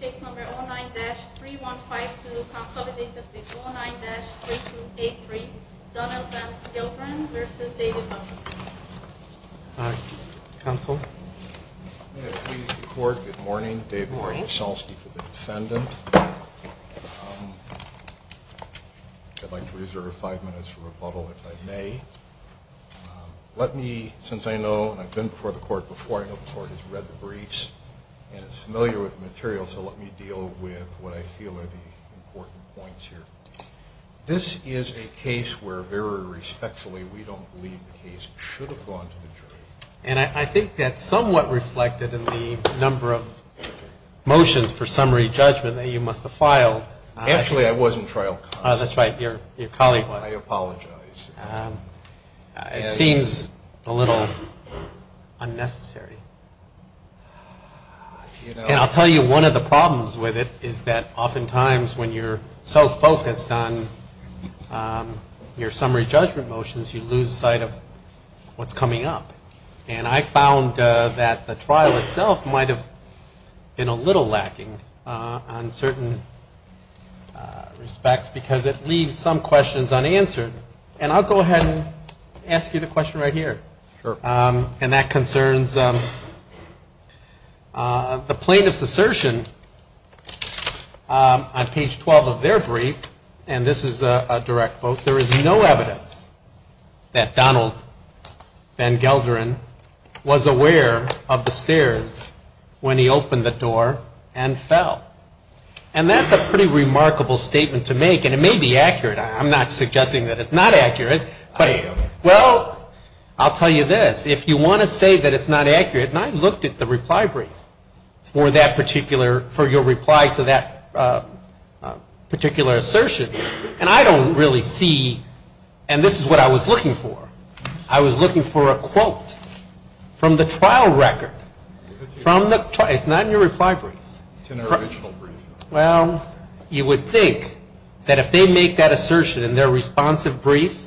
Case number 09-3152, consolidated with 09-3283, Donald Van Gelderen v. David Musselby. Hi. Counsel. May it please the Court, good morning. David Morsalski for the defendant. I'd like to reserve five minutes for rebuttal, if I may. Let me, since I know, and I've been before the Court before, I know the Court has read the briefs, and is familiar with the material, so let me deal with what I feel are the important points here. This is a case where, very respectfully, we don't believe the case should have gone to the jury. And I think that's somewhat reflected in the number of motions for summary judgment that you must have filed. Actually, I was in trial constantly. That's right, your colleague was. I apologize. It seems a little unnecessary. And I'll tell you, one of the problems with it is that oftentimes, when you're so focused on your summary judgment motions, you lose sight of what's coming up. And I found that the trial itself might have been a little lacking on certain respects, because it leaves some questions unanswered. And I'll go ahead and ask you the question right here. Sure. And that concerns the plaintiff's assertion on page 12 of their brief, and this is a direct vote, there is no evidence that Donald Van Gelderen was aware of the stairs when he opened the door and fell. And that's a pretty remarkable statement to make, and it may be accurate. I'm not suggesting that it's not accurate. I am. Well, I'll tell you this. If you want to say that it's not accurate, and I looked at the reply brief for that particular, for your reply to that particular assertion, and I don't really see, and this is what I was looking for. I was looking for a quote from the trial record. It's not in your reply brief. It's in the original brief. Well, you would think that if they make that assertion in their responsive brief,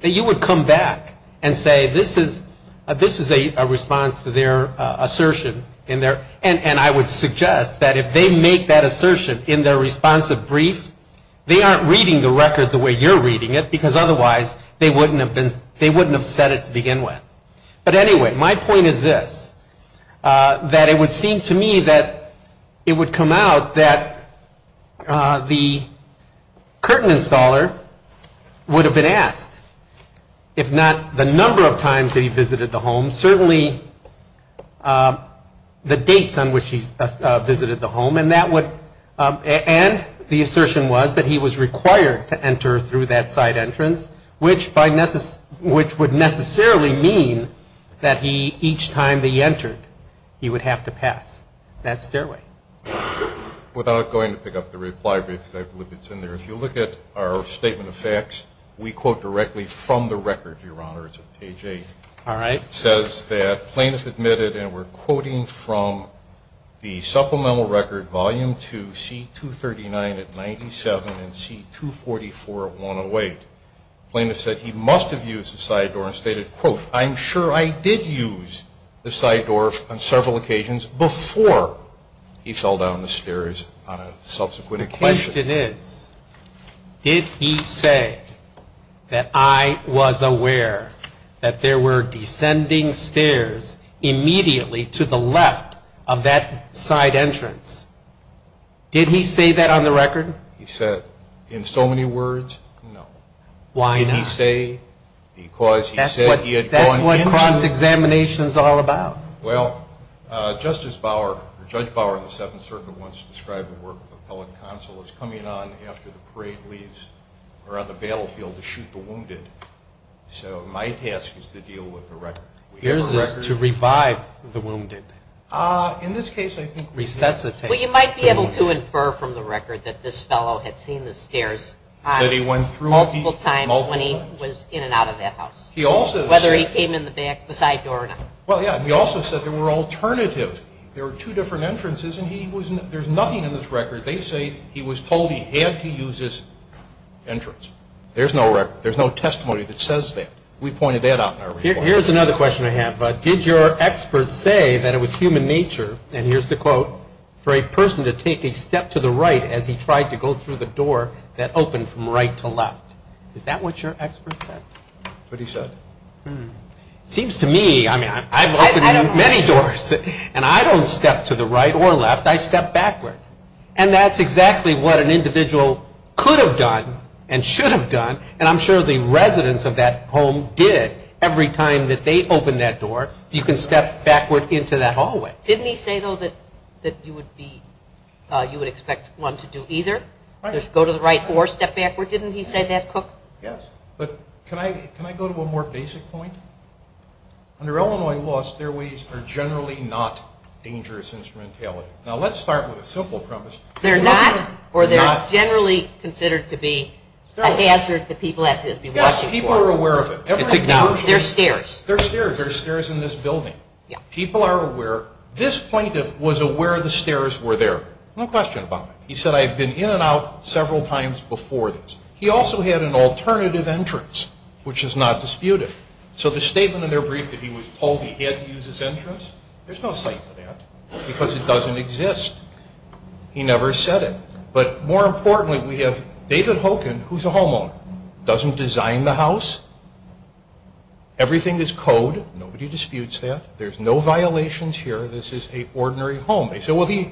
that you would come back and say this is a response to their assertion. And I would suggest that if they make that assertion in their responsive brief, they aren't reading the record the way you're reading it, because otherwise they wouldn't have said it to begin with. But anyway, my point is this, that it would seem to me that it would come out that the curtain installer would have been asked, if not the number of times that he visited the home, certainly the dates on which he visited the home, and the assertion was that he was required to enter through that side entrance, which would necessarily mean that he, each time that he entered, he would have to pass that stairway. Without going to pick up the reply brief, because I believe it's in there, if you look at our statement of facts, we quote directly from the record, Your Honor. It's on page 8. All right. It says that plaintiff admitted, and we're quoting from the supplemental record, C239 at 97 and C244 at 108. Plaintiff said he must have used the side door and stated, quote, I'm sure I did use the side door on several occasions before he fell down the stairs on a subsequent occasion. The question is, did he say that I was aware that there were descending stairs immediately to the left of that side entrance? Did he say that on the record? He said, in so many words, no. Why not? Did he say because he said he had gone into the room? That's what cross-examination is all about. Well, Justice Bauer or Judge Bauer in the Seventh Circuit once described the work of appellate counsel as coming on after the parade leaves or on the battlefield to shoot the wounded. So my task is to deal with the record. Yours is to revive the wounded. In this case, I think recessive. Well, you might be able to infer from the record that this fellow had seen the stairs multiple times when he was in and out of that house, whether he came in the back, the side door or not. Well, yeah. And he also said there were alternatives. There were two different entrances, and there's nothing in this record. They say he was told he had to use this entrance. There's no record. There's no testimony that says that. We pointed that out in our report. Here's another question I have. Did your expert say that it was human nature, and here's the quote, for a person to take a step to the right as he tried to go through the door that opened from right to left? Is that what your expert said? That's what he said. It seems to me, I mean, I've opened many doors, and I don't step to the right or left. I step backward. And that's exactly what an individual could have done and should have done, and I'm sure the residents of that home did every time that they opened that door. You can step backward into that hallway. Didn't he say, though, that you would expect one to do either, go to the right or step backward? Didn't he say that, Cook? Yes. But can I go to a more basic point? Under Illinois law, stairways are generally not dangerous instrumentality. Now, let's start with a simple premise. They're not, or they're generally considered to be a hazard that people have to be watching for. Yes, people are aware of it. It's acknowledged. They're stairs. They're stairs. There are stairs in this building. People are aware. This plaintiff was aware the stairs were there. No question about it. He said, I've been in and out several times before this. He also had an alternative entrance, which is not disputed. So the statement in their brief that he was told he had to use his entrance, there's no cite to that because it doesn't exist. He never said it. But more importantly, we have David Hogan, who's a homeowner, doesn't design the house. Everything is code. Nobody disputes that. There's no violations here. This is an ordinary home. They say, well, he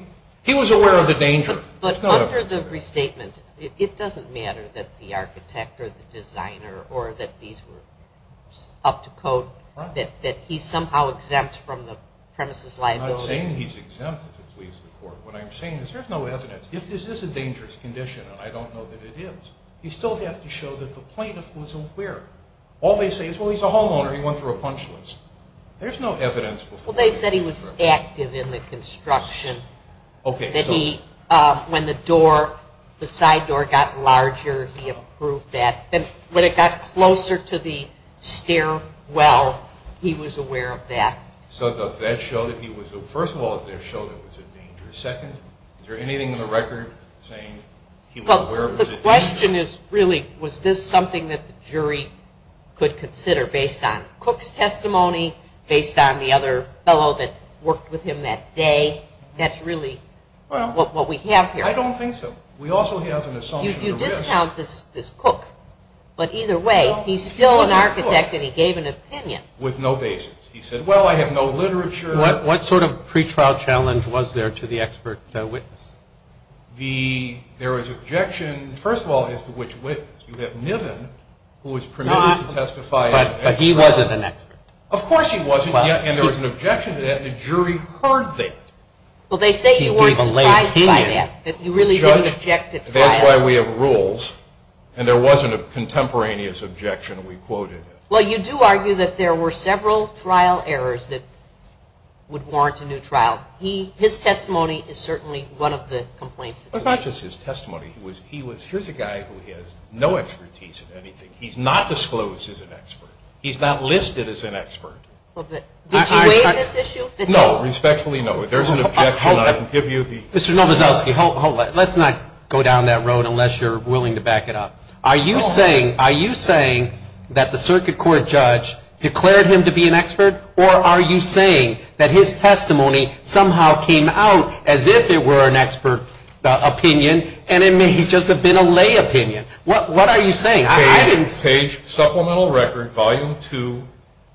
was aware of the danger. But under the restatement, it doesn't matter that the architect or the designer or that these were up to code, that he's somehow exempt from the premises liability. I'm not saying he's exempt if it leaves the court. What I'm saying is there's no evidence. If this is a dangerous condition, and I don't know that it is, you still have to show that the plaintiff was aware. All they say is, well, he's a homeowner. He went through a punch list. There's no evidence before. Well, they said he was active in the construction. When the side door got larger, he approved that. Then when it got closer to the stairwell, he was aware of that. So does that show that he was? First of all, does that show that it was a dangerous setting? Is there anything in the record saying he was aware of it? The question is really, was this something that the jury could consider based on a fellow that worked with him that day? That's really what we have here. I don't think so. We also have an assumption of risk. You discount this cook. But either way, he's still an architect, and he gave an opinion. With no basis. He said, well, I have no literature. What sort of pretrial challenge was there to the expert witness? There was objection, first of all, as to which witness. You have Niven, who was permitted to testify as an expert. But he wasn't an expert. Of course he wasn't. And there was an objection to that, and the jury heard that. Well, they say you weren't surprised by that. You really didn't object at trial. That's why we have rules. And there wasn't a contemporaneous objection. We quoted it. Well, you do argue that there were several trial errors that would warrant a new trial. His testimony is certainly one of the complaints. It's not just his testimony. Here's a guy who has no expertise in anything. He's not disclosed as an expert. He's not listed as an expert. Did you weigh this issue? No. Respectfully, no. If there's an objection, I can give you the. Mr. Nowazowski, hold on. Let's not go down that road unless you're willing to back it up. Are you saying that the circuit court judge declared him to be an expert, or are you saying that his testimony somehow came out as if it were an expert opinion, and it may just have been a lay opinion? What are you saying? Page supplemental record, volume 2,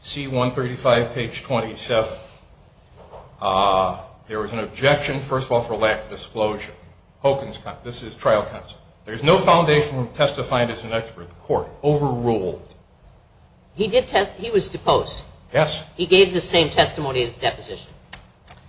C135, page 27. There was an objection, first of all, for lack of disclosure. This is trial counsel. There's no foundation from testifying as an expert. The court overruled. He was deposed. Yes. He gave the same testimony at his deposition.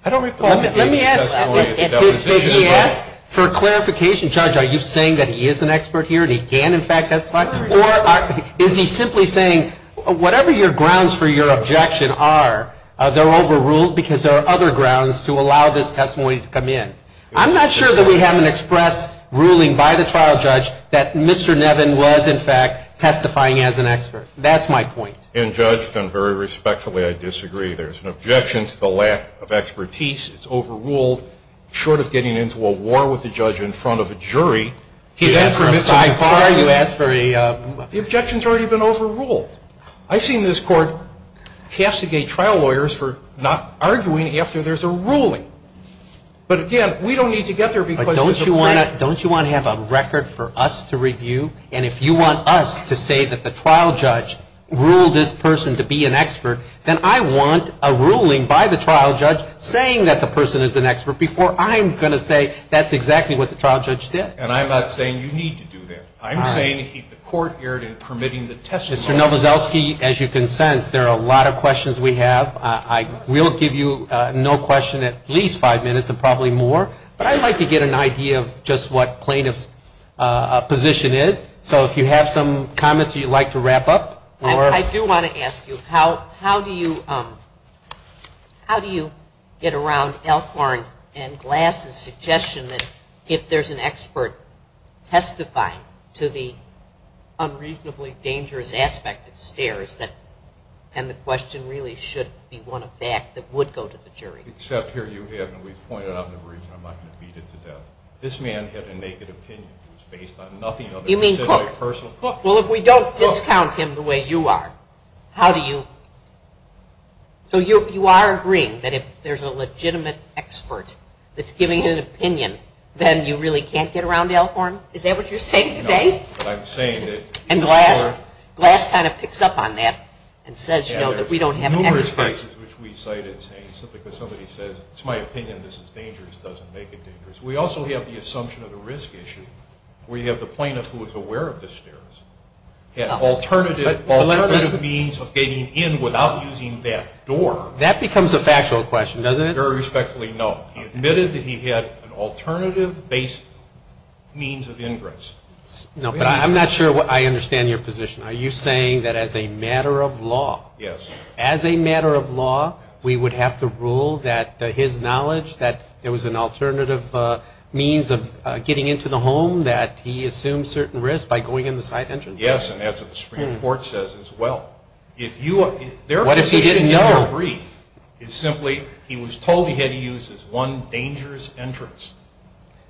I don't recall. Let me ask. Did he ask? For clarification, Judge, are you saying that he is an expert here and he can, in fact, testify? Or is he simply saying whatever your grounds for your objection are, they're overruled because there are other grounds to allow this testimony to come in. I'm not sure that we haven't expressed ruling by the trial judge that Mr. Nevin was, in fact, testifying as an expert. That's my point. And, Judge, and very respectfully, I disagree. There's an objection to the lack of expertise. It's overruled. Short of getting into a war with the judge in front of a jury. He asked for a sidebar. You asked for a. The objection has already been overruled. I've seen this court castigate trial lawyers for not arguing after there's a ruling. But, again, we don't need to get there because. But don't you want to have a record for us to review? And if you want us to say that the trial judge ruled this person to be an expert, then I want a ruling by the trial judge saying that the person is an expert before I'm going to say that's exactly what the trial judge did. And I'm not saying you need to do that. I'm saying to keep the court geared in permitting the testimony. Mr. Nowazowski, as you can sense, there are a lot of questions we have. I will give you no question at least five minutes and probably more. But I'd like to get an idea of just what plaintiff's position is. So if you have some comments you'd like to wrap up. I do want to ask you, how do you get around Elkhorn and Glass's suggestion that if there's an expert testifying to the unreasonably dangerous aspect of STAIRS, then the question really should be one of fact that would go to the jury. Except here you have, and we've pointed out the reason I'm not going to beat it to death. This man had a naked opinion. It was based on nothing other than a personal. Well, if we don't discount him the way you are, how do you? So you are agreeing that if there's a legitimate expert that's giving an opinion, then you really can't get around Elkhorn? Is that what you're saying today? No, but I'm saying that. And Glass kind of picks up on that and says, you know, that we don't have an expert. There's numerous cases which we cited saying simply because somebody says, it's my opinion this is dangerous, doesn't make it dangerous. We also have the assumption of the risk issue. We have the plaintiff who was aware of the STAIRS, had alternative means of getting in without using that door. That becomes a factual question, doesn't it? Very respectfully, no. He admitted that he had an alternative base means of ingress. No, but I'm not sure I understand your position. Are you saying that as a matter of law. Yes. As a matter of law, we would have to rule that his knowledge that there was an alternative means of getting into the home that he assumed certain risk by going in the side entrance. Yes, and that's what the Supreme Court says as well. What if he didn't know? Their position in your brief is simply he was told he had to use this one dangerous entrance.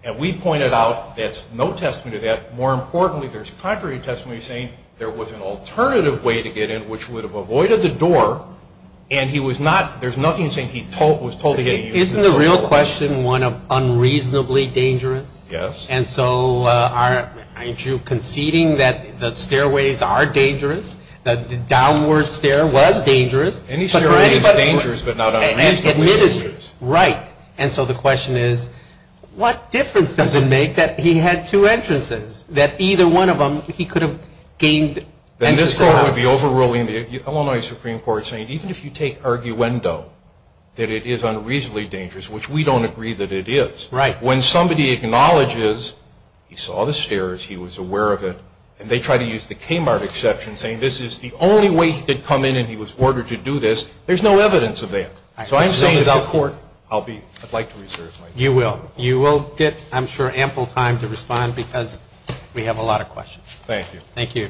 And we pointed out that's no testament to that. More importantly, there's contrary testimony saying there was an alternative way to get in which would have avoided the door. And he was not, there's nothing saying he was told he had to use it. Isn't the real question one of unreasonably dangerous? Yes. And so aren't you conceding that the stairways are dangerous, that the downward stair was dangerous? Any stairway is dangerous but not unreasonably dangerous. Right. And so the question is what difference does it make that he had two entrances, that either one of them he could have gained entrance to the house? Then this Court would be overruling the Illinois Supreme Court saying even if you take that it is unreasonably dangerous, which we don't agree that it is. Right. When somebody acknowledges he saw the stairs, he was aware of it, and they try to use the Kmart exception saying this is the only way he could come in and he was ordered to do this, there's no evidence of that. So I'm saying that this Court, I'd like to reserve my time. You will. You will get, I'm sure, ample time to respond because we have a lot of questions. Thank you. Thank you.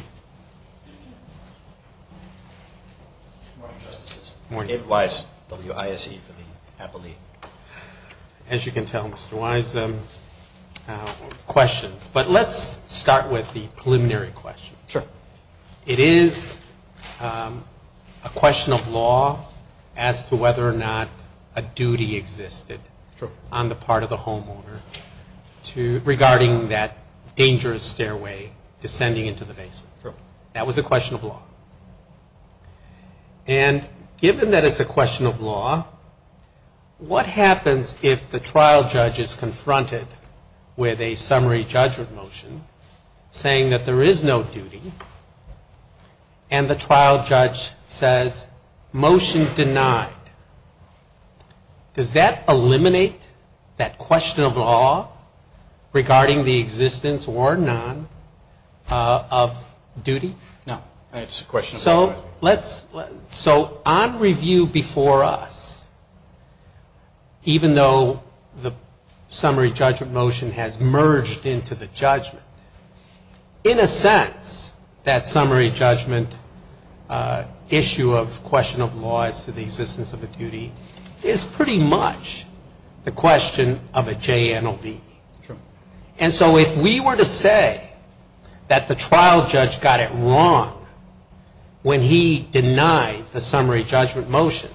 Good morning, Justices. Good morning. David Wise, WISE for the Appellee. As you can tell, Mr. Wise, questions. But let's start with the preliminary question. Sure. It is a question of law as to whether or not a duty existed on the part of the homeowner regarding that dangerous stairway descending into the basement. Sure. That was a question of law. And given that it's a question of law, what happens if the trial judge is confronted with a summary judgment motion saying that there is no duty, and the trial judge says motion denied. Does that eliminate that question of law regarding the existence or none of duty? No. It's a question of law. So on review before us, even though the summary judgment motion has merged into the judgment, in a sense, that summary judgment issue of question of law as to the existence of a duty is pretty much the question of a JNOV. Sure. And so if we were to say that the trial judge got it wrong when he denied the summary judgment motion,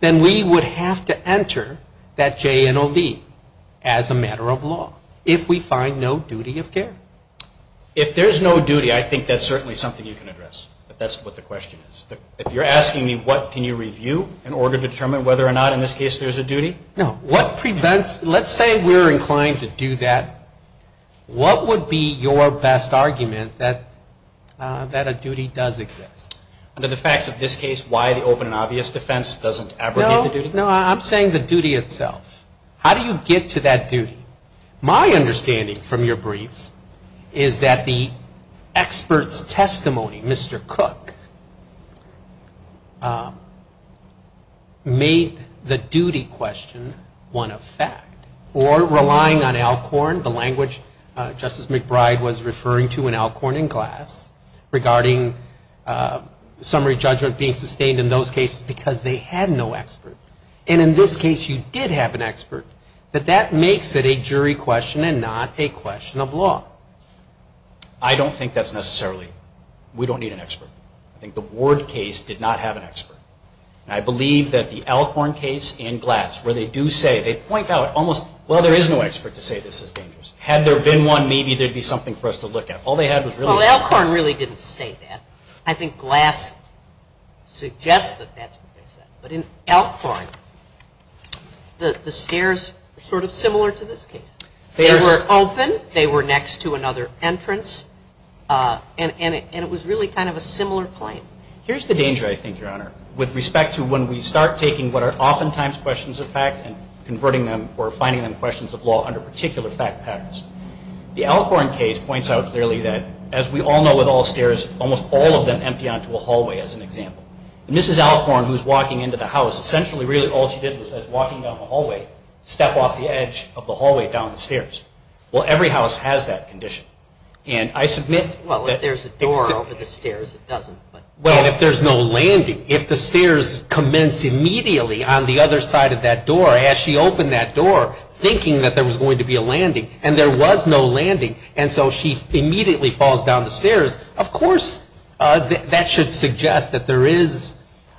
then we would have to enter that JNOV as a matter of law if we find no duty of care. If there's no duty, I think that's certainly something you can address. But that's what the question is. If you're asking me what can you review in order to determine whether or not in this case there's a duty? No. Let's say we're inclined to do that. What would be your best argument that a duty does exist? Under the facts of this case, why the open and obvious defense doesn't abrogate the duty? No, I'm saying the duty itself. How do you get to that duty? My understanding from your brief is that the expert's testimony, Mr. Cook, made the duty question one of fact. Or relying on Alcorn, the language Justice McBride was referring to in Alcorn and Glass, regarding summary judgment being sustained in those cases because they had no expert. And in this case, you did have an expert. But that makes it a jury question and not a question of law. I don't think that's necessarily. We don't need an expert. I think the Ward case did not have an expert. And I believe that the Alcorn case and Glass, where they do say, they point out almost, well, there is no expert to say this is dangerous. Had there been one, maybe there'd be something for us to look at. Well, Alcorn really didn't say that. I think Glass suggests that that's what they said. But in Alcorn, the stairs are sort of similar to this case. They were open. They were next to another entrance. And it was really kind of a similar claim. Here's the danger, I think, Your Honor, with respect to when we start taking what are oftentimes questions of fact and converting them or finding them questions of law under particular fact patterns. The Alcorn case points out clearly that, as we all know with all stairs, almost all of them empty onto a hallway, as an example. And Mrs. Alcorn, who's walking into the house, essentially really all she did was, as walking down the hallway, step off the edge of the hallway down the stairs. Well, every house has that condition. And I submit that it's simply. Well, if there's a door over the stairs, it doesn't. Well, if there's no landing, if the stairs commence immediately on the other side of that door, as she opened that door, thinking that there was going to be a landing, and there was no landing, and so she immediately falls down the stairs, of course that should suggest that there is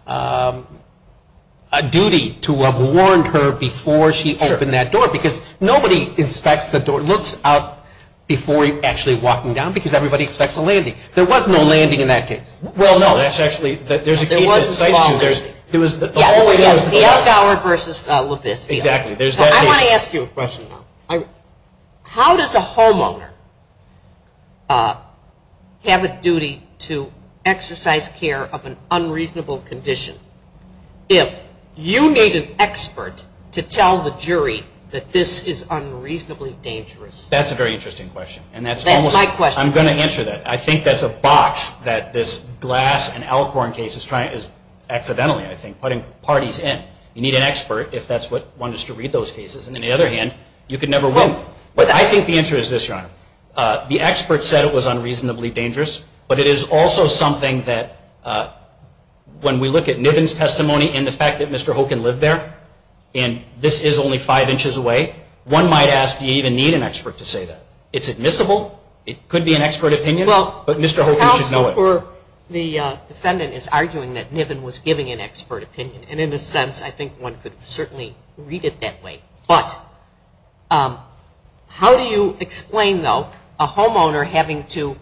a duty to have warned her before she opened that door. Sure. Because nobody inspects the door, looks up before actually walking down, because everybody expects a landing. There was no landing in that case. Well, no, that's actually. There was a small landing. There's a case in CITES, too. It was the hallway. Yes, the alcohol versus lupus. Exactly. I want to ask you a question, though. How does a homeowner have a duty to exercise care of an unreasonable condition if you need an expert to tell the jury that this is unreasonably dangerous? That's a very interesting question. That's my question. I'm going to answer that. I think that's a box that this Glass and Alcorn case is trying, is accidentally, I think, putting parties in. You need an expert, if that's what one is to read those cases. And on the other hand, you could never win. But I think the answer is this, Your Honor. The expert said it was unreasonably dangerous, but it is also something that when we look at Niven's testimony and the fact that Mr. Hoken lived there, and this is only five inches away, one might ask, do you even need an expert to say that? It's admissible. It could be an expert opinion, but Mr. Hoken should know it. Well, counsel for the defendant is arguing that Niven was giving an expert opinion, and in a sense I think one could certainly read it that way. But how do you explain, though, a homeowner having to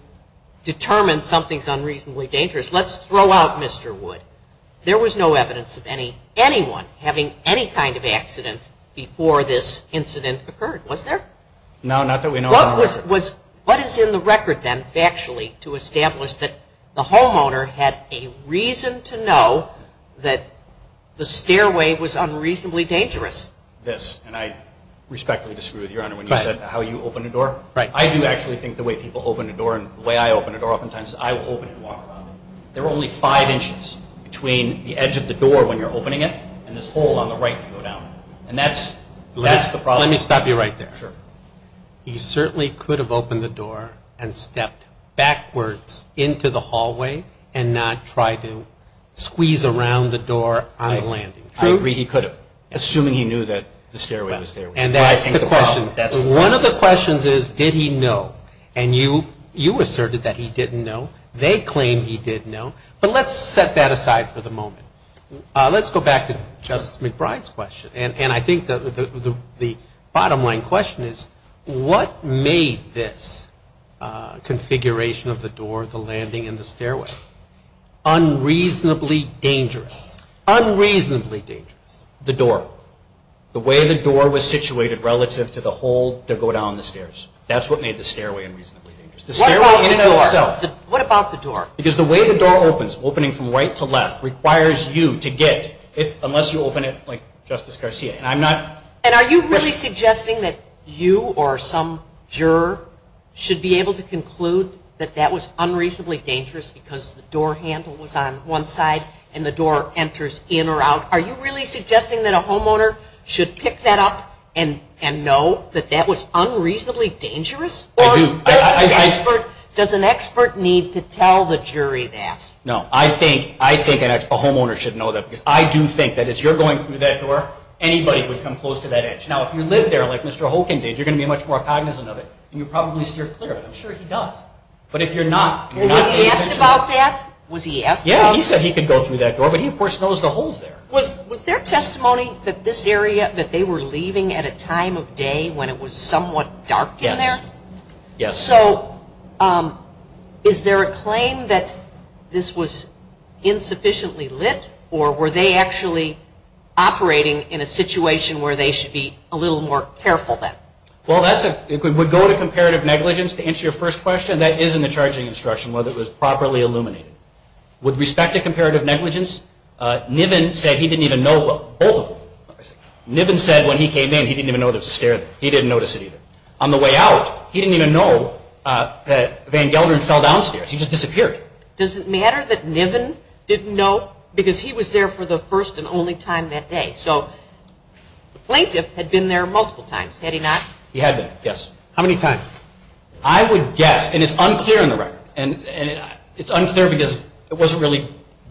determine something is unreasonably dangerous? Let's throw out Mr. Wood. There was no evidence of anyone having any kind of accident before this incident occurred, was there? No, not that we know of. What is in the record then, factually, to establish that the homeowner had a reason to know that the stairway was unreasonably dangerous? This, and I respectfully disagree with you, Your Honor, when you said how you open a door. I do actually think the way people open a door and the way I open a door oftentimes is I will open it and walk around it. There are only five inches between the edge of the door when you're opening it and this hole on the right to go down, and that's the problem. Let me stop you right there. Sure. He certainly could have opened the door and stepped backwards into the hallway and not tried to squeeze around the door on the landing. True. I agree, he could have, assuming he knew that the stairway was there. And that's the question. One of the questions is, did he know? And you asserted that he didn't know. They claim he did know. But let's set that aside for the moment. Let's go back to Justice McBride's question. And I think the bottom line question is, what made this configuration of the door, the landing, and the stairway unreasonably dangerous? Unreasonably dangerous. The door. The way the door was situated relative to the hole to go down the stairs. That's what made the stairway unreasonably dangerous. The stairway in and of itself. What about the door? Because the way the door opens, opening from right to left, requires you to get, unless you open it like Justice Garcia. And I'm not. And are you really suggesting that you or some juror should be able to conclude that that was unreasonably dangerous because the door handle was on one side and the door enters in or out? Are you really suggesting that a homeowner should pick that up and know that that was unreasonably dangerous? I do. Or does an expert need to tell the jury that? No. I think a homeowner should know that. Because I do think that if you're going through that door, anybody would come close to that edge. Now, if you live there like Mr. Holkind did, you're going to be much more cognizant of it. And you'll probably steer clear of it. I'm sure he does. But if you're not, and you're not the expert. Was he asked about that? Yeah. He said he could go through that door. But he, of course, knows the holes there. Was there testimony that this area, that they were leaving at a time of day when it was somewhat dark in there? Yes. So is there a claim that this was insufficiently lit? Or were they actually operating in a situation where they should be a little more careful then? Well, it would go to comparative negligence to answer your first question. That is in the charging instruction, whether it was properly illuminated. With respect to comparative negligence, Niven said he didn't even know both of them. Niven said when he came in, he didn't even notice a stair there. He didn't notice it either. On the way out, he didn't even know that Van Gelderen fell downstairs. He just disappeared. Does it matter that Niven didn't know? Because he was there for the first and only time that day. So the plaintiff had been there multiple times. Had he not? He had been, yes. How many times? I would guess, and it's unclear on the record. And it's unclear because it wasn't really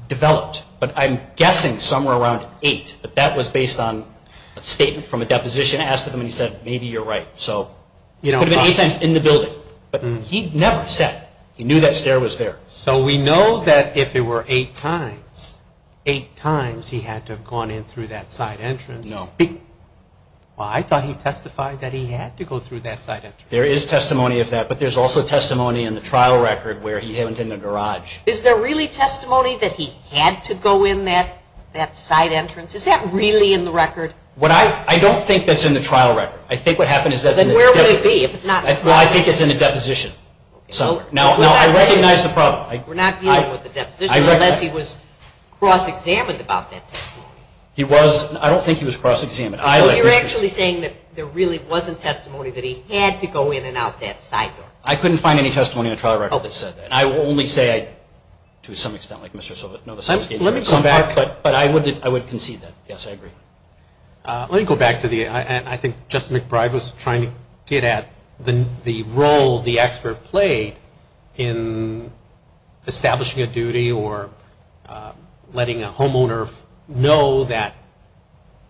developed. But I'm guessing somewhere around eight. But that was based on a statement from a deposition. The deposition asked him and he said, maybe you're right. So it could have been eight times in the building. But he never said. He knew that stair was there. So we know that if it were eight times, eight times he had to have gone in through that side entrance. No. Well, I thought he testified that he had to go through that side entrance. There is testimony of that. But there's also testimony in the trial record where he went in the garage. Is there really testimony that he had to go in that side entrance? Is that really in the record? I don't think that's in the trial record. I think what happened is that's in the deposition. Then where would it be? Well, I think it's in the deposition somewhere. Now, I recognize the problem. We're not dealing with the deposition unless he was cross-examined about that testimony. He was. I don't think he was cross-examined. You're actually saying that there really wasn't testimony that he had to go in and out that side door. I couldn't find any testimony in the trial record that said that. I will only say, to some extent, like Mr. Silva. Let me come back, but I would concede that. Yes, I agree. Let me go back to the end. I think Justice McBride was trying to get at the role the expert played in establishing a duty or letting a homeowner know that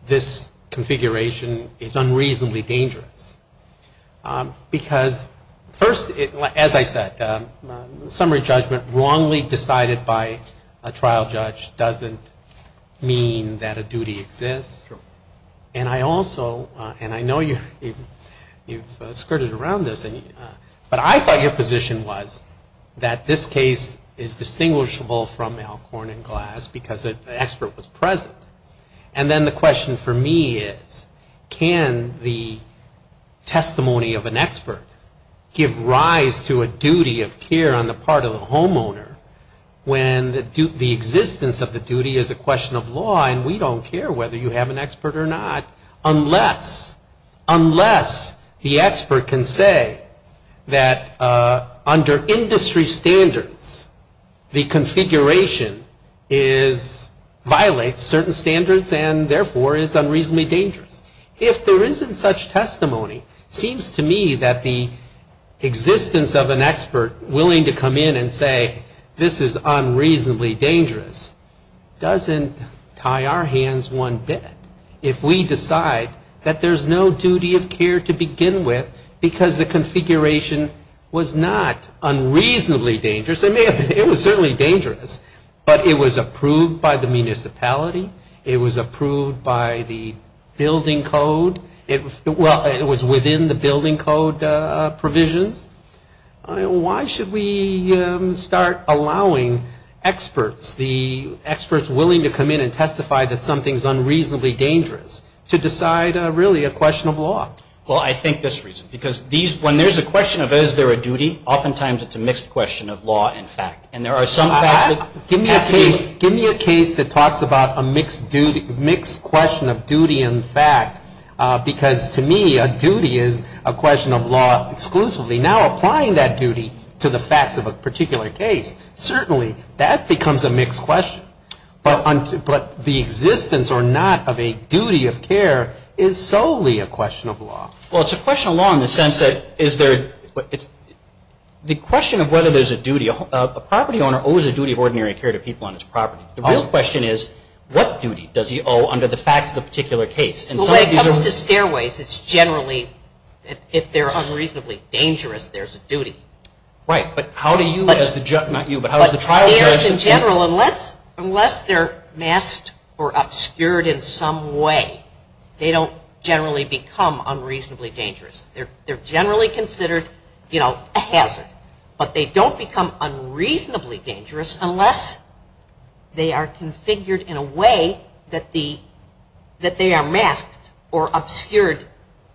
this configuration is unreasonably dangerous. Because, first, as I said, summary judgment wrongly decided by a trial judge doesn't mean that a duty exists. And I also, and I know you've skirted around this, but I thought your position was that this case is distinguishable from Alcorn and Glass because the expert was present. And then the question for me is, can the testimony of an expert give rise to a duty of care on the part of the homeowner when the existence of the duty is a question of law and we don't care whether you have an expert or not, unless the expert can say that under industry standards, the configuration violates certain standards and, therefore, is unreasonably dangerous. If there isn't such testimony, it seems to me that the existence of an expert willing to come in and say, this is unreasonably dangerous, doesn't tie our hands one bit. If we decide that there's no duty of care to begin with because the configuration was not unreasonably dangerous, it was certainly dangerous, but it was approved by the municipality, it was approved by the building code, well, it was within the building code provisions, why should we start allowing experts, the experts willing to come in and testify that something's unreasonably dangerous to decide, really, a question of law? Well, I think this reason, because when there's a question of is there a duty, oftentimes it's a mixed question of law and fact. Give me a case that talks about a mixed question of duty and fact, because to me a duty is a question of law exclusively. Now applying that duty to the facts of a particular case, certainly that becomes a mixed question, but the existence or not of a duty of care is solely a question of law. Well, it's a question of law in the sense that is there, the question of whether there's a duty, a property owner owes a duty of ordinary care to people on his property. The real question is what duty does he owe under the facts of the particular case? Well, when it comes to stairways, it's generally if they're unreasonably dangerous, there's a duty. Right, but how do you as the judge, not you, but how does the trial judge? Stairs in general, unless they're masked or obscured in some way, they don't generally become unreasonably dangerous. They're generally considered a hazard, but they don't become unreasonably dangerous unless they are configured in a way that they are masked or obscured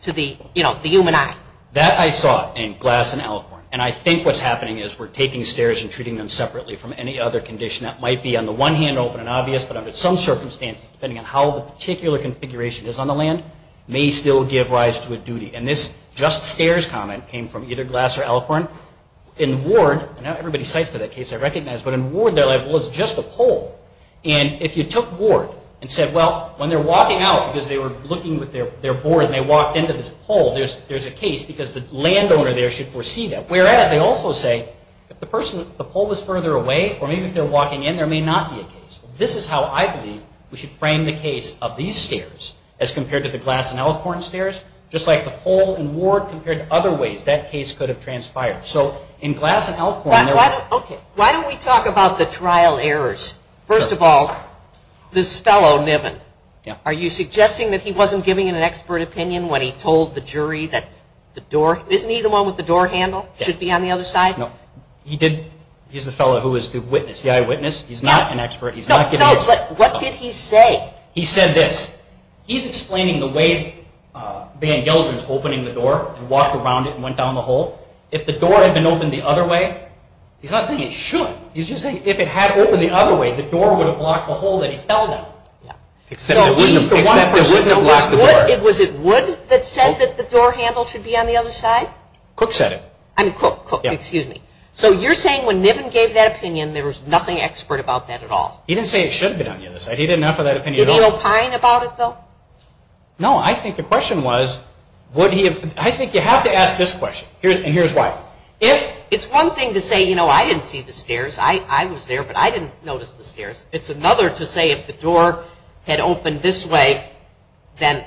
to the human eye. That I saw in Glass and Alcorn, and I think what's happening is we're taking stairs and treating them separately from any other condition that might be on the one hand open and obvious, but under some circumstances, depending on how the particular configuration is on the land, may still give rise to a duty. And this just stairs comment came from either Glass or Alcorn. In Ward, and everybody cites to that case I recognize, but in Ward they're like, well, it's just a pole. And if you took Ward and said, well, when they're walking out, because they were looking with their board and they walked into this pole, there's a case because the landowner there should foresee that. Whereas, they also say, if the pole was further away, or maybe if they're walking in, there may not be a case. This is how I believe we should frame the case of these stairs as compared to the Glass and Alcorn stairs. Just like the pole in Ward compared to other ways that case could have transpired. So in Glass and Alcorn, there were... Why don't we talk about the trial errors. First of all, this fellow, Niven, are you suggesting that he wasn't giving an expert opinion when he told the jury that the door... Isn't he the one with the door handle? Should it be on the other side? No. He's the fellow who was the eyewitness. He's not an expert. No, but what did he say? He said this. He's explaining the way Van Gelder was opening the door and walked around it and went down the hole. If the door had been opened the other way... He's not saying it should. He's just saying if it had opened the other way, the door would have blocked the hole that he fell down. Except it wouldn't have blocked the door. Was it Wood that said that the door handle should be on the other side? Cook said it. Cook, excuse me. So you're saying when Niven gave that opinion, there was nothing expert about that at all? He didn't say it should have been on the other side. He didn't offer that opinion at all. Did he opine about it, though? No. I think the question was would he have... I think you have to ask this question, and here's why. It's one thing to say, you know, I didn't see the stairs. I was there, but I didn't notice the stairs. It's another to say if the door had opened this way, then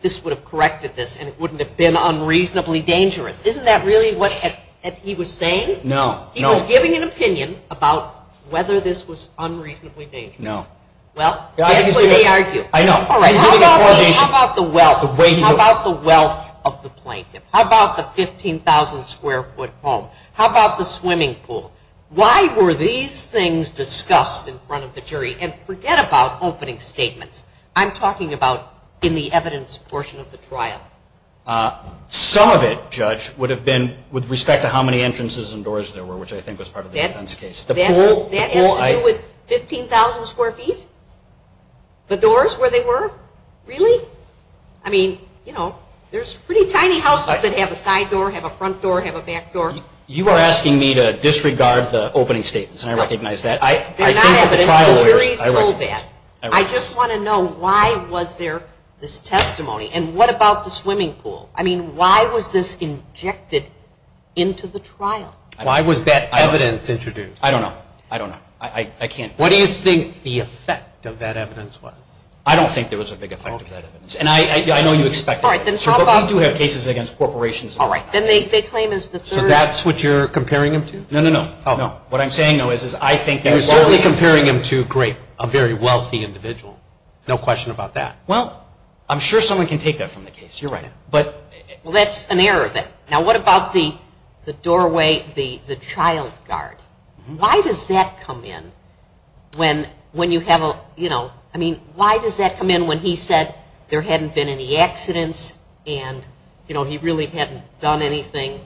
this would have corrected this and it wouldn't have been unreasonably dangerous. Isn't that really what he was saying? No. He was giving an opinion about whether this was unreasonably dangerous. No. Well, that's what they argue. I know. How about the wealth? How about the wealth of the plaintiff? How about the 15,000 square foot home? How about the swimming pool? Why were these things discussed in front of the jury? And forget about opening statements. I'm talking about in the evidence portion of the trial. Some of it, Judge, would have been with respect to how many entrances and doors there were, which I think was part of the defense case. That has to do with 15,000 square feet? The doors where they were? Really? I mean, you know, there's pretty tiny houses that have a side door, have a front door, have a back door. You are asking me to disregard the opening statements, and I recognize that. They're not evidence. The jury's told that. I recognize that. I just want to know why was there this testimony, and what about the swimming pool? I mean, why was this injected into the trial? Why was that evidence introduced? I don't know. I don't know. I can't. What do you think the effect of that evidence was? I don't think there was a big effect of that evidence. And I know you expect that. But we do have cases against corporations. All right. So that's what you're comparing him to? No, no, no. What I'm saying, though, is I think you're certainly comparing him to, great, a very wealthy individual. No question about that. Well, I'm sure someone can take that from the case. You're right. Well, that's an error. Now, what about the doorway, the child guard? Why does that come in when you have a, you know, I mean, why does that come in when he said there hadn't been any accidents and, you know, he really hadn't done anything?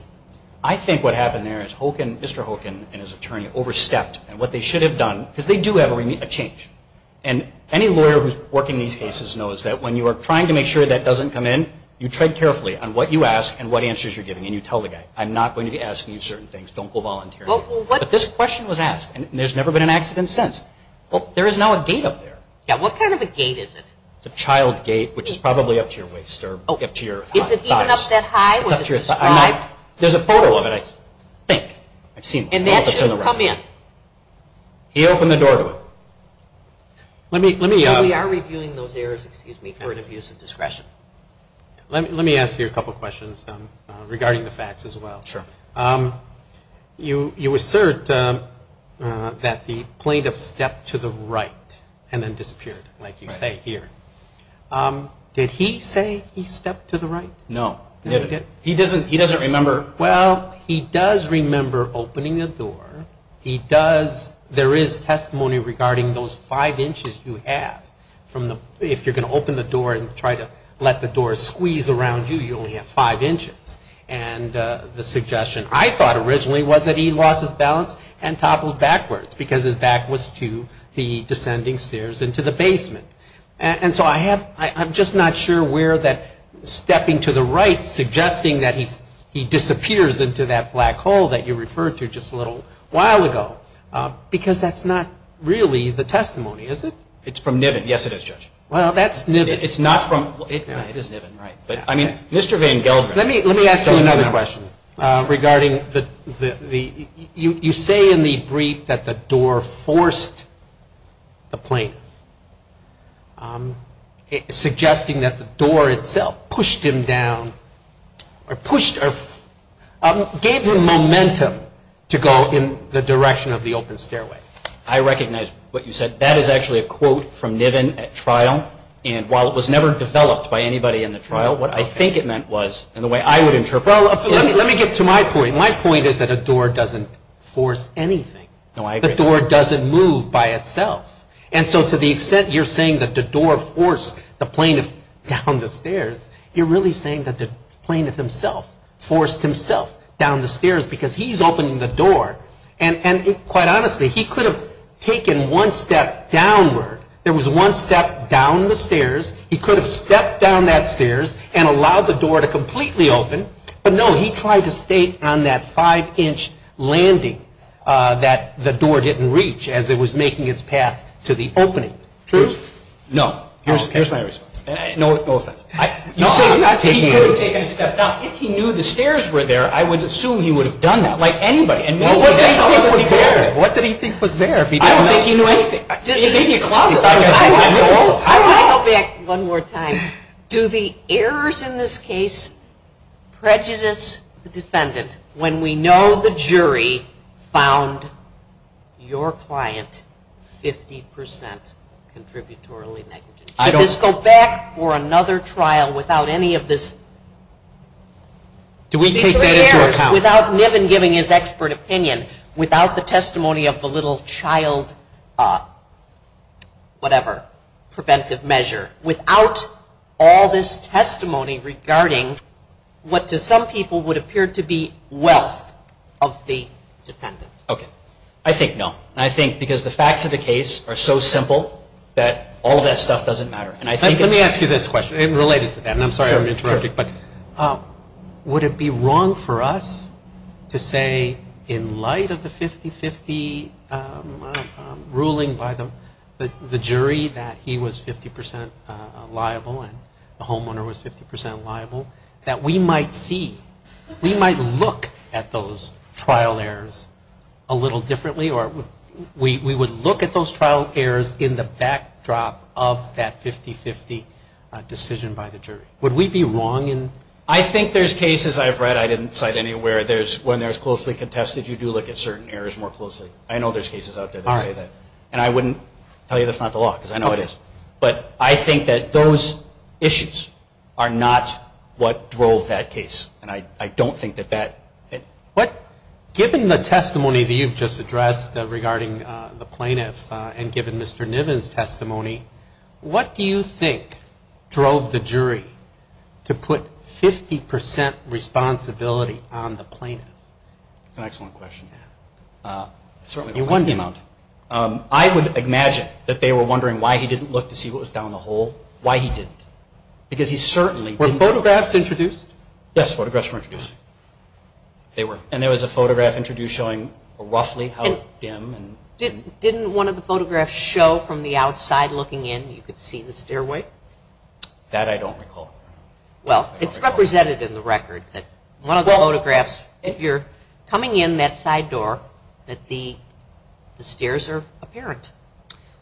I think what happened there is Mr. Hoken and his attorney overstepped in what they should have done because they do have a change. And any lawyer who's working these cases knows that when you are trying to make sure that doesn't come in, you tread carefully on what you ask and what answers you're giving. And you tell the guy, I'm not going to be asking you certain things. Don't go volunteering. But this question was asked, and there's never been an accident since. Well, there is now a gate up there. Yeah. What kind of a gate is it? It's a child gate, which is probably up to your waist or up to your thighs. Is it even up that high? Was it described? There's a photo of it, I think. I've seen it. And that shouldn't come in? He opened the door to it. We are reviewing those errors, excuse me, for an abuse of discretion. Let me ask you a couple questions regarding the facts as well. Sure. You assert that the plaintiff stepped to the right and then disappeared, like you say here. Did he say he stepped to the right? No. He doesn't remember. Well, he does remember opening the door. There is testimony regarding those five inches you have. If you're going to open the door and try to let the door squeeze around you, you only have five inches. And the suggestion I thought originally was that he lost his balance and toppled backwards because his back was to the descending stairs into the basement. And so I'm just not sure where that stepping to the right, suggesting that he disappears into that black hole that you referred to just a little while ago. Because that's not really the testimony, is it? It's from Niven. Yes, it is, Judge. Well, that's Niven. It's not from Niven. It is Niven, right. But, I mean, Mr. Van Gelder. Let me ask you another question regarding the you say in the brief that the door forced the plaintiff, suggesting that the door itself pushed him down or pushed or gave him momentum to go in the direction of the open stairway. I recognize what you said. That is actually a quote from Niven at trial. And while it was never developed by anybody in the trial, what I think it meant was in the way I would interpret it. Well, let me get to my point. My point is that a door doesn't force anything. The door doesn't move by itself. And so to the extent you're saying that the door forced the plaintiff down the stairs, you're really saying that the plaintiff himself forced himself down the stairs because he's opening the door. And quite honestly, he could have taken one step downward. There was one step down the stairs. He could have stepped down that stairs and allowed the door to completely open. But, no, he tried to stay on that five-inch landing that the door didn't reach as it was making its path to the opening. True? No. Here's my response. No offense. You say he could have taken a step down. If he knew the stairs were there, I would assume he would have done that, like anybody. What did he think was there? I don't think he knew anything. He thought it was a closet. I want to go back one more time. Do the errors in this case prejudice the defendant when we know the jury found your client 50% contributorily negligent? Should this go back for another trial without any of this? Do we take that into account? Without Niven giving his expert opinion, without the testimony of the little child, whatever, preventive measure, without all this testimony regarding what to some people would appear to be wealth of the defendant? Okay. I think no. I think because the facts of the case are so simple that all of that stuff doesn't matter. Let me ask you this question related to that. I'm sorry I'm interrupting. Would it be wrong for us to say in light of the 50-50 ruling by the jury that he was 50% liable and the homeowner was 50% liable that we might see, we would look at those trial errors in the backdrop of that 50-50 decision by the jury? Would we be wrong? I think there's cases I've read, I didn't cite any, where when there's closely contested you do look at certain errors more closely. I know there's cases out there that say that. And I wouldn't tell you that's not the law because I know it is. But I think that those issues are not what drove that case. And I don't think that that. Given the testimony that you've just addressed regarding the plaintiff and given Mr. Niven's testimony, what do you think drove the jury to put 50% responsibility on the plaintiff? That's an excellent question. I would imagine that they were wondering why he didn't look to see what was down the hole, why he didn't. Because he certainly didn't. Were photographs introduced? Yes, photographs were introduced. They were. And there was a photograph introduced showing roughly how dim. Didn't one of the photographs show from the outside looking in you could see the stairway? That I don't recall. Well, it's represented in the record that one of the photographs, if you're coming in that side door, that the stairs are apparent.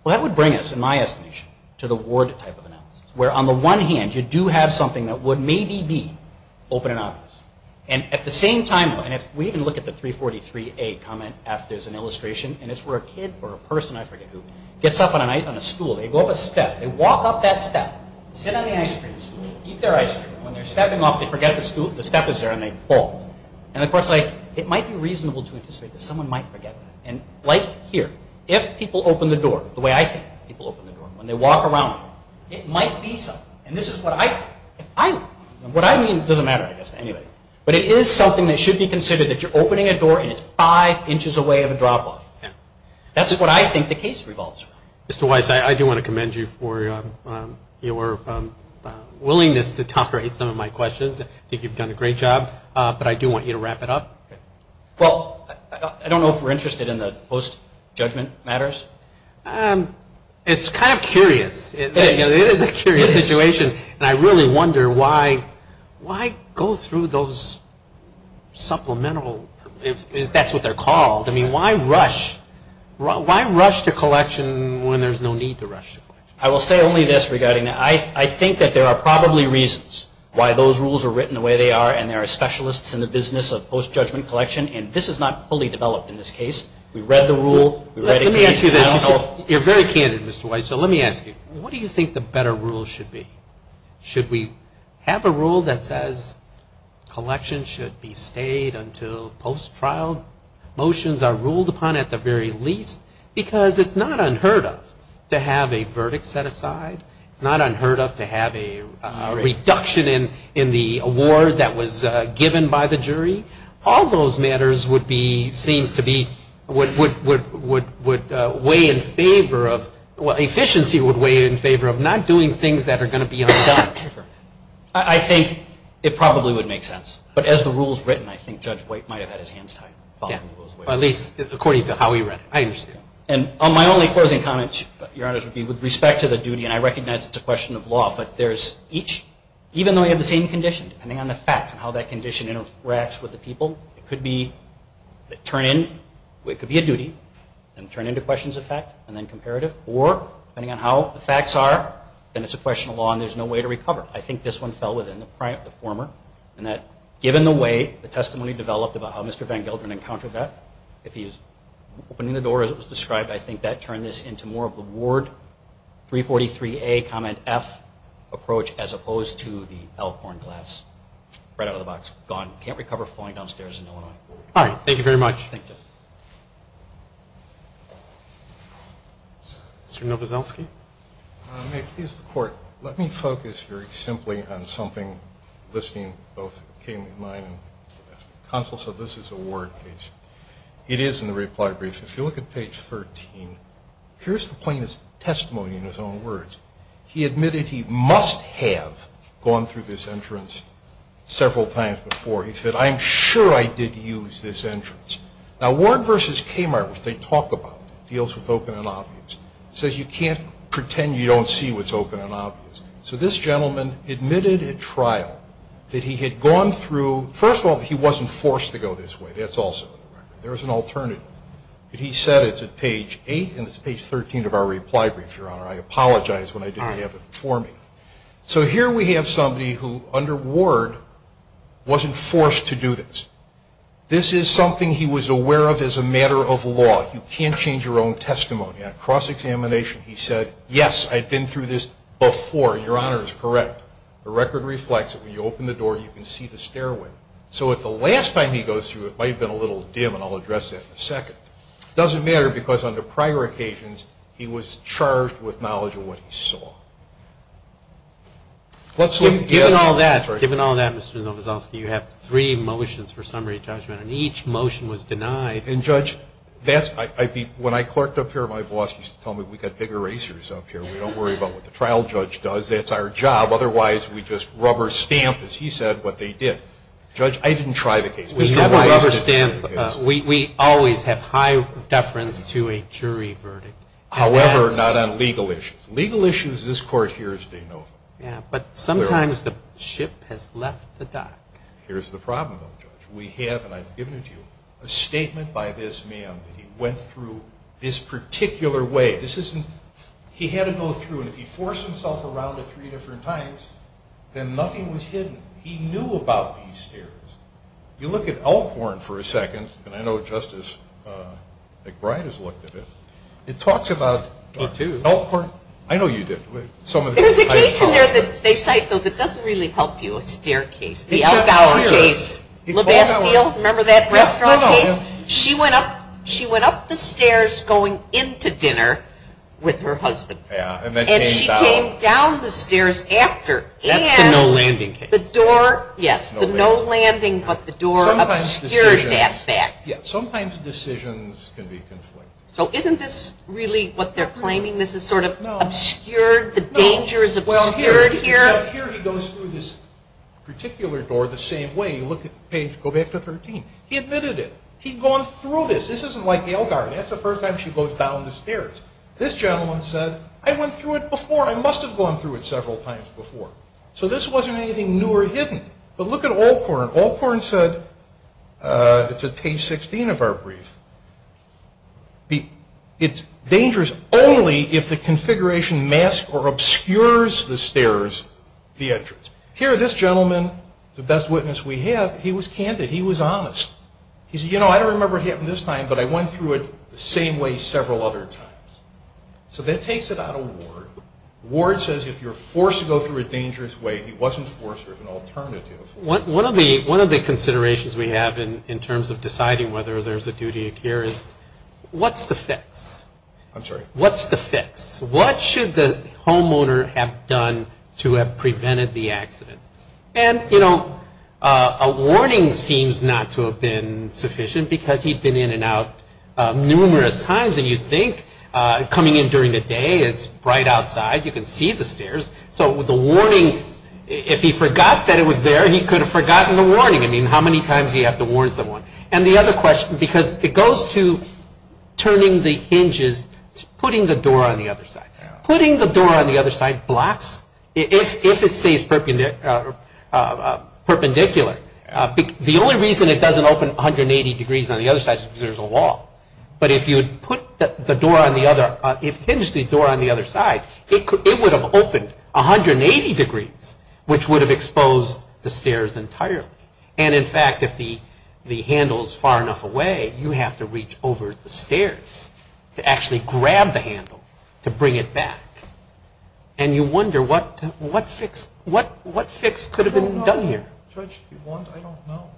Well, that would bring us, in my estimation, to the ward type of analysis where, on the one hand, you do have something that would maybe be open and obvious. And at the same time, and if we even look at the 343A comment F, there's an illustration, and it's where a kid or a person, I forget who, gets up on a school. They go up a step. They walk up that step, sit on the ice cream, eat their ice cream. When they're stepping off, they forget the step is there and they fall. And, of course, it might be reasonable to anticipate that someone might forget that. And like here, if people open the door the way I think people open the door, when they walk around, it might be something. And this is what I mean. It doesn't matter, I guess, to anybody. But it is something that should be considered that you're opening a door and it's five inches away of a drop off. That's what I think the case revolves around. Mr. Weiss, I do want to commend you for your willingness to tolerate some of my questions. I think you've done a great job, but I do want you to wrap it up. Well, I don't know if we're interested in the post-judgment matters. It's kind of curious. It is a curious situation. And I really wonder why go through those supplemental, if that's what they're called. I mean, why rush to collection when there's no need to rush to collection? I will say only this regarding that. I think that there are probably reasons why those rules are written the way they are and there are specialists in the business of post-judgment collection. And this is not fully developed in this case. We read the rule. Let me ask you this. You're very candid, Mr. Weiss. So let me ask you, what do you think the better rule should be? Should we have a rule that says collections should be stayed until post-trial motions are ruled upon at the very least? Because it's not unheard of to have a verdict set aside. It's not unheard of to have a reduction in the award that was given by the jury. All those matters would be seen to be would weigh in favor of, efficiency would weigh in favor of not doing things that are going to be undone. I think it probably would make sense. But as the rule is written, I think Judge White might have had his hands tied following those rules. At least according to how he read it. I understand. And my only closing comment, Your Honors, would be with respect to the duty, and I recognize it's a question of law, but there's each, even though we have the same condition, depending on the facts and how that condition interacts with the people, it could be a duty, and turn into questions of fact, and then comparative. Or depending on how the facts are, then it's a question of law and there's no way to recover. I think this one fell within the former, and that given the way the testimony developed about how Mr. Van Gelderen encountered that, if he was opening the door as it was described, I think that turned this into more of the Ward 343A, Comment F approach as opposed to the Elkhorn class. Right out of the box. Gone. Can't recover falling downstairs in Illinois. All right. Thank you very much. Thank you. Mr. Novoselsky? May it please the Court, let me focus very simply on something listening both came to mind. Counsel said this is a Ward case. It is in the reply brief. If you look at page 13, here's the plaintiff's testimony in his own words. He admitted he must have gone through this entrance several times before. He said, I'm sure I did use this entrance. Now, Ward v. Kmart, which they talk about, deals with open and obvious, says you can't pretend you don't see what's open and obvious. So this gentleman admitted at trial that he had gone through, first of all, that he wasn't forced to go this way. That's also on the record. There was an alternative. But he said it's at page 8, and it's page 13 of our reply brief, Your Honor. And he said, I'm sure I did use this entrance when I didn't have it for me. So here we have somebody who, under Ward, wasn't forced to do this. This is something he was aware of as a matter of law. You can't change your own testimony. On cross-examination, he said, yes, I'd been through this before. Your Honor is correct. The record reflects it. When you open the door, you can see the stairway. So if the last time he goes through it might have been a little dim, and I'll address that in a second. It doesn't matter because on the prior occasions, he was charged with knowledge of what he saw. Given all that, Mr. Novoselsky, you have three motions for summary judgment, and each motion was denied. And, Judge, when I clerked up here, my boss used to tell me we've got big erasers up here. We don't worry about what the trial judge does. That's our job. Otherwise, we just rubber stamp, as he said, what they did. Judge, I didn't try the case. We never rubber stamp. We always have high deference to a jury verdict. However, not on legal issues. Legal issues, this Court hears de novo. Yeah, but sometimes the ship has left the dock. Here's the problem, though, Judge. We have, and I've given it to you, a statement by this man that he went through this particular way. This isn't he had to go through, and if he forced himself around it three different times, then nothing was hidden. He knew about these stairs. If you look at Elkhorn for a second, and I know Justice McBride has looked at it, it talks about Elkhorn. I know you did. There's a case in there that they cite, though, that doesn't really help you, a staircase. The Elbow case. La Bastille, remember that restaurant case? She went up the stairs going into dinner with her husband. And she came down the stairs after. That's the no-landing case. The door, yes, the no-landing, but the door obscured that fact. Sometimes decisions can be conflicting. So isn't this really what they're claiming? This is sort of obscured? The danger is obscured here? Well, here he goes through this particular door the same way. You look at page, go back to 13. He admitted it. He'd gone through this. This isn't like Elkhorn. That's the first time she goes down the stairs. This gentleman said, I went through it before. I must have gone through it several times before. So this wasn't anything new or hidden. But look at Elkhorn. Elkhorn said, it's at page 16 of our brief, it's dangerous only if the configuration masks or obscures the stairs, the entrance. Here, this gentleman, the best witness we have, he was candid. He was honest. He said, you know, I don't remember it happening this time, but I went through it the same way several other times. So that takes it out of Ward. Ward says if you're forced to go through a dangerous way, he wasn't forced. There was an alternative. One of the considerations we have in terms of deciding whether there's a duty of care is what's the fix? I'm sorry? What's the fix? What should the homeowner have done to have prevented the accident? And, you know, a warning seems not to have been sufficient because he'd been in and out numerous times. And you'd think coming in during the day, it's bright outside, you can see the stairs. So the warning, if he forgot that it was there, he could have forgotten the warning. I mean, how many times do you have to warn someone? And the other question, because it goes to turning the hinges, putting the door on the other side. Putting the door on the other side blocks if it stays perpendicular. The only reason it doesn't open 180 degrees on the other side is because there's a wall. But if you hinge the door on the other side, it would have opened 180 degrees, which would have exposed the stairs entirely. And, in fact, if the handle is far enough away, you have to reach over the stairs to actually grab the handle to bring it back. And you wonder what fix could have been done here. Judge, do you want to? I don't know.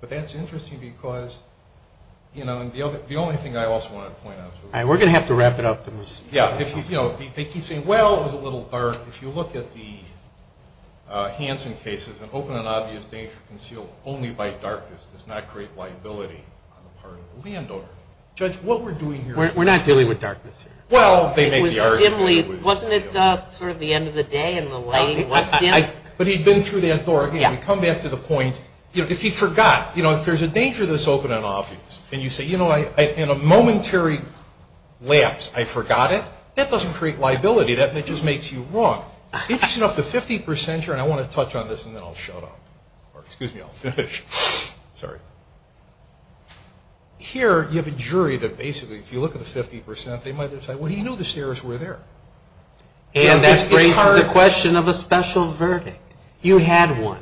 But that's interesting because, you know, the only thing I also wanted to point out. We're going to have to wrap it up. Yeah. You know, they keep saying, well, it was a little dark. If you look at the Hansen cases, an open and obvious danger concealed only by darkness does not create liability on the part of the landowner. Judge, what we're doing here. We're not dealing with darkness here. Well, they make the argument. It was dimly. Wasn't it sort of the end of the day and the lighting was dim? But he'd been through that door. Again, we come back to the point, you know, if he forgot, you know, if there's a danger that's open and obvious and you say, you know, in a momentary lapse I forgot it, that doesn't create liability. That just makes you wrong. Interesting enough, the 50 percenter, and I want to touch on this and then I'll shut up. Or excuse me, I'll finish. Sorry. Here you have a jury that basically, if you look at the 50 percent, they might decide, well, he knew the stairs were there. And that raises the question of a special verdict. You had one.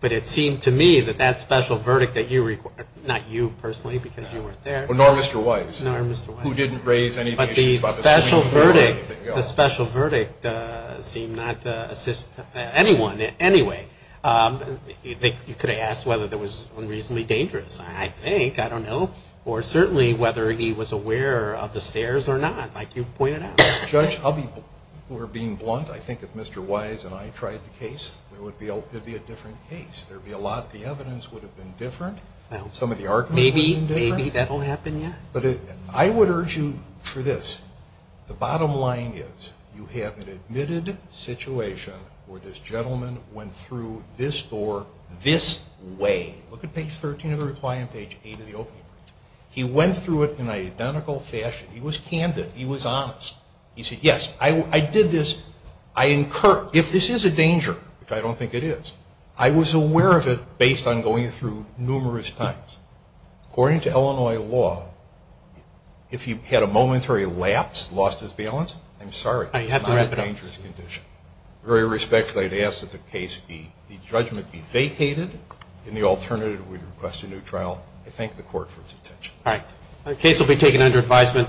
But it seemed to me that that special verdict that you required, not you personally because you weren't there. Nor Mr. Wise. Nor Mr. Wise. Who didn't raise any of the issues. But the special verdict seemed not to assist anyone in any way. You could have asked whether it was unreasonably dangerous. I think. I don't know. Or certainly whether he was aware of the stairs or not, like you pointed out. Judge Hubby, we're being blunt. I think if Mr. Wise and I tried the case, it would be a different case. There would be a lot of the evidence would have been different. Some of the arguments would have been different. Maybe. Maybe that will happen, yeah. But I would urge you for this. The bottom line is you have an admitted situation where this gentleman went through this door this way. Look at page 13 of the reply and page 8 of the opening. He went through it in an identical fashion. He was candid. He was honest. He said, yes, I did this. If this is a danger, which I don't think it is, I was aware of it based on going through numerous times. According to Illinois law, if he had a momentary lapse, lost his balance, I'm sorry. It's not a dangerous condition. Very respectfully, I'd ask that the judgment be vacated. Any alternative, we'd request a new trial. I thank the court for its attention. All right. The case will be taken under advisement.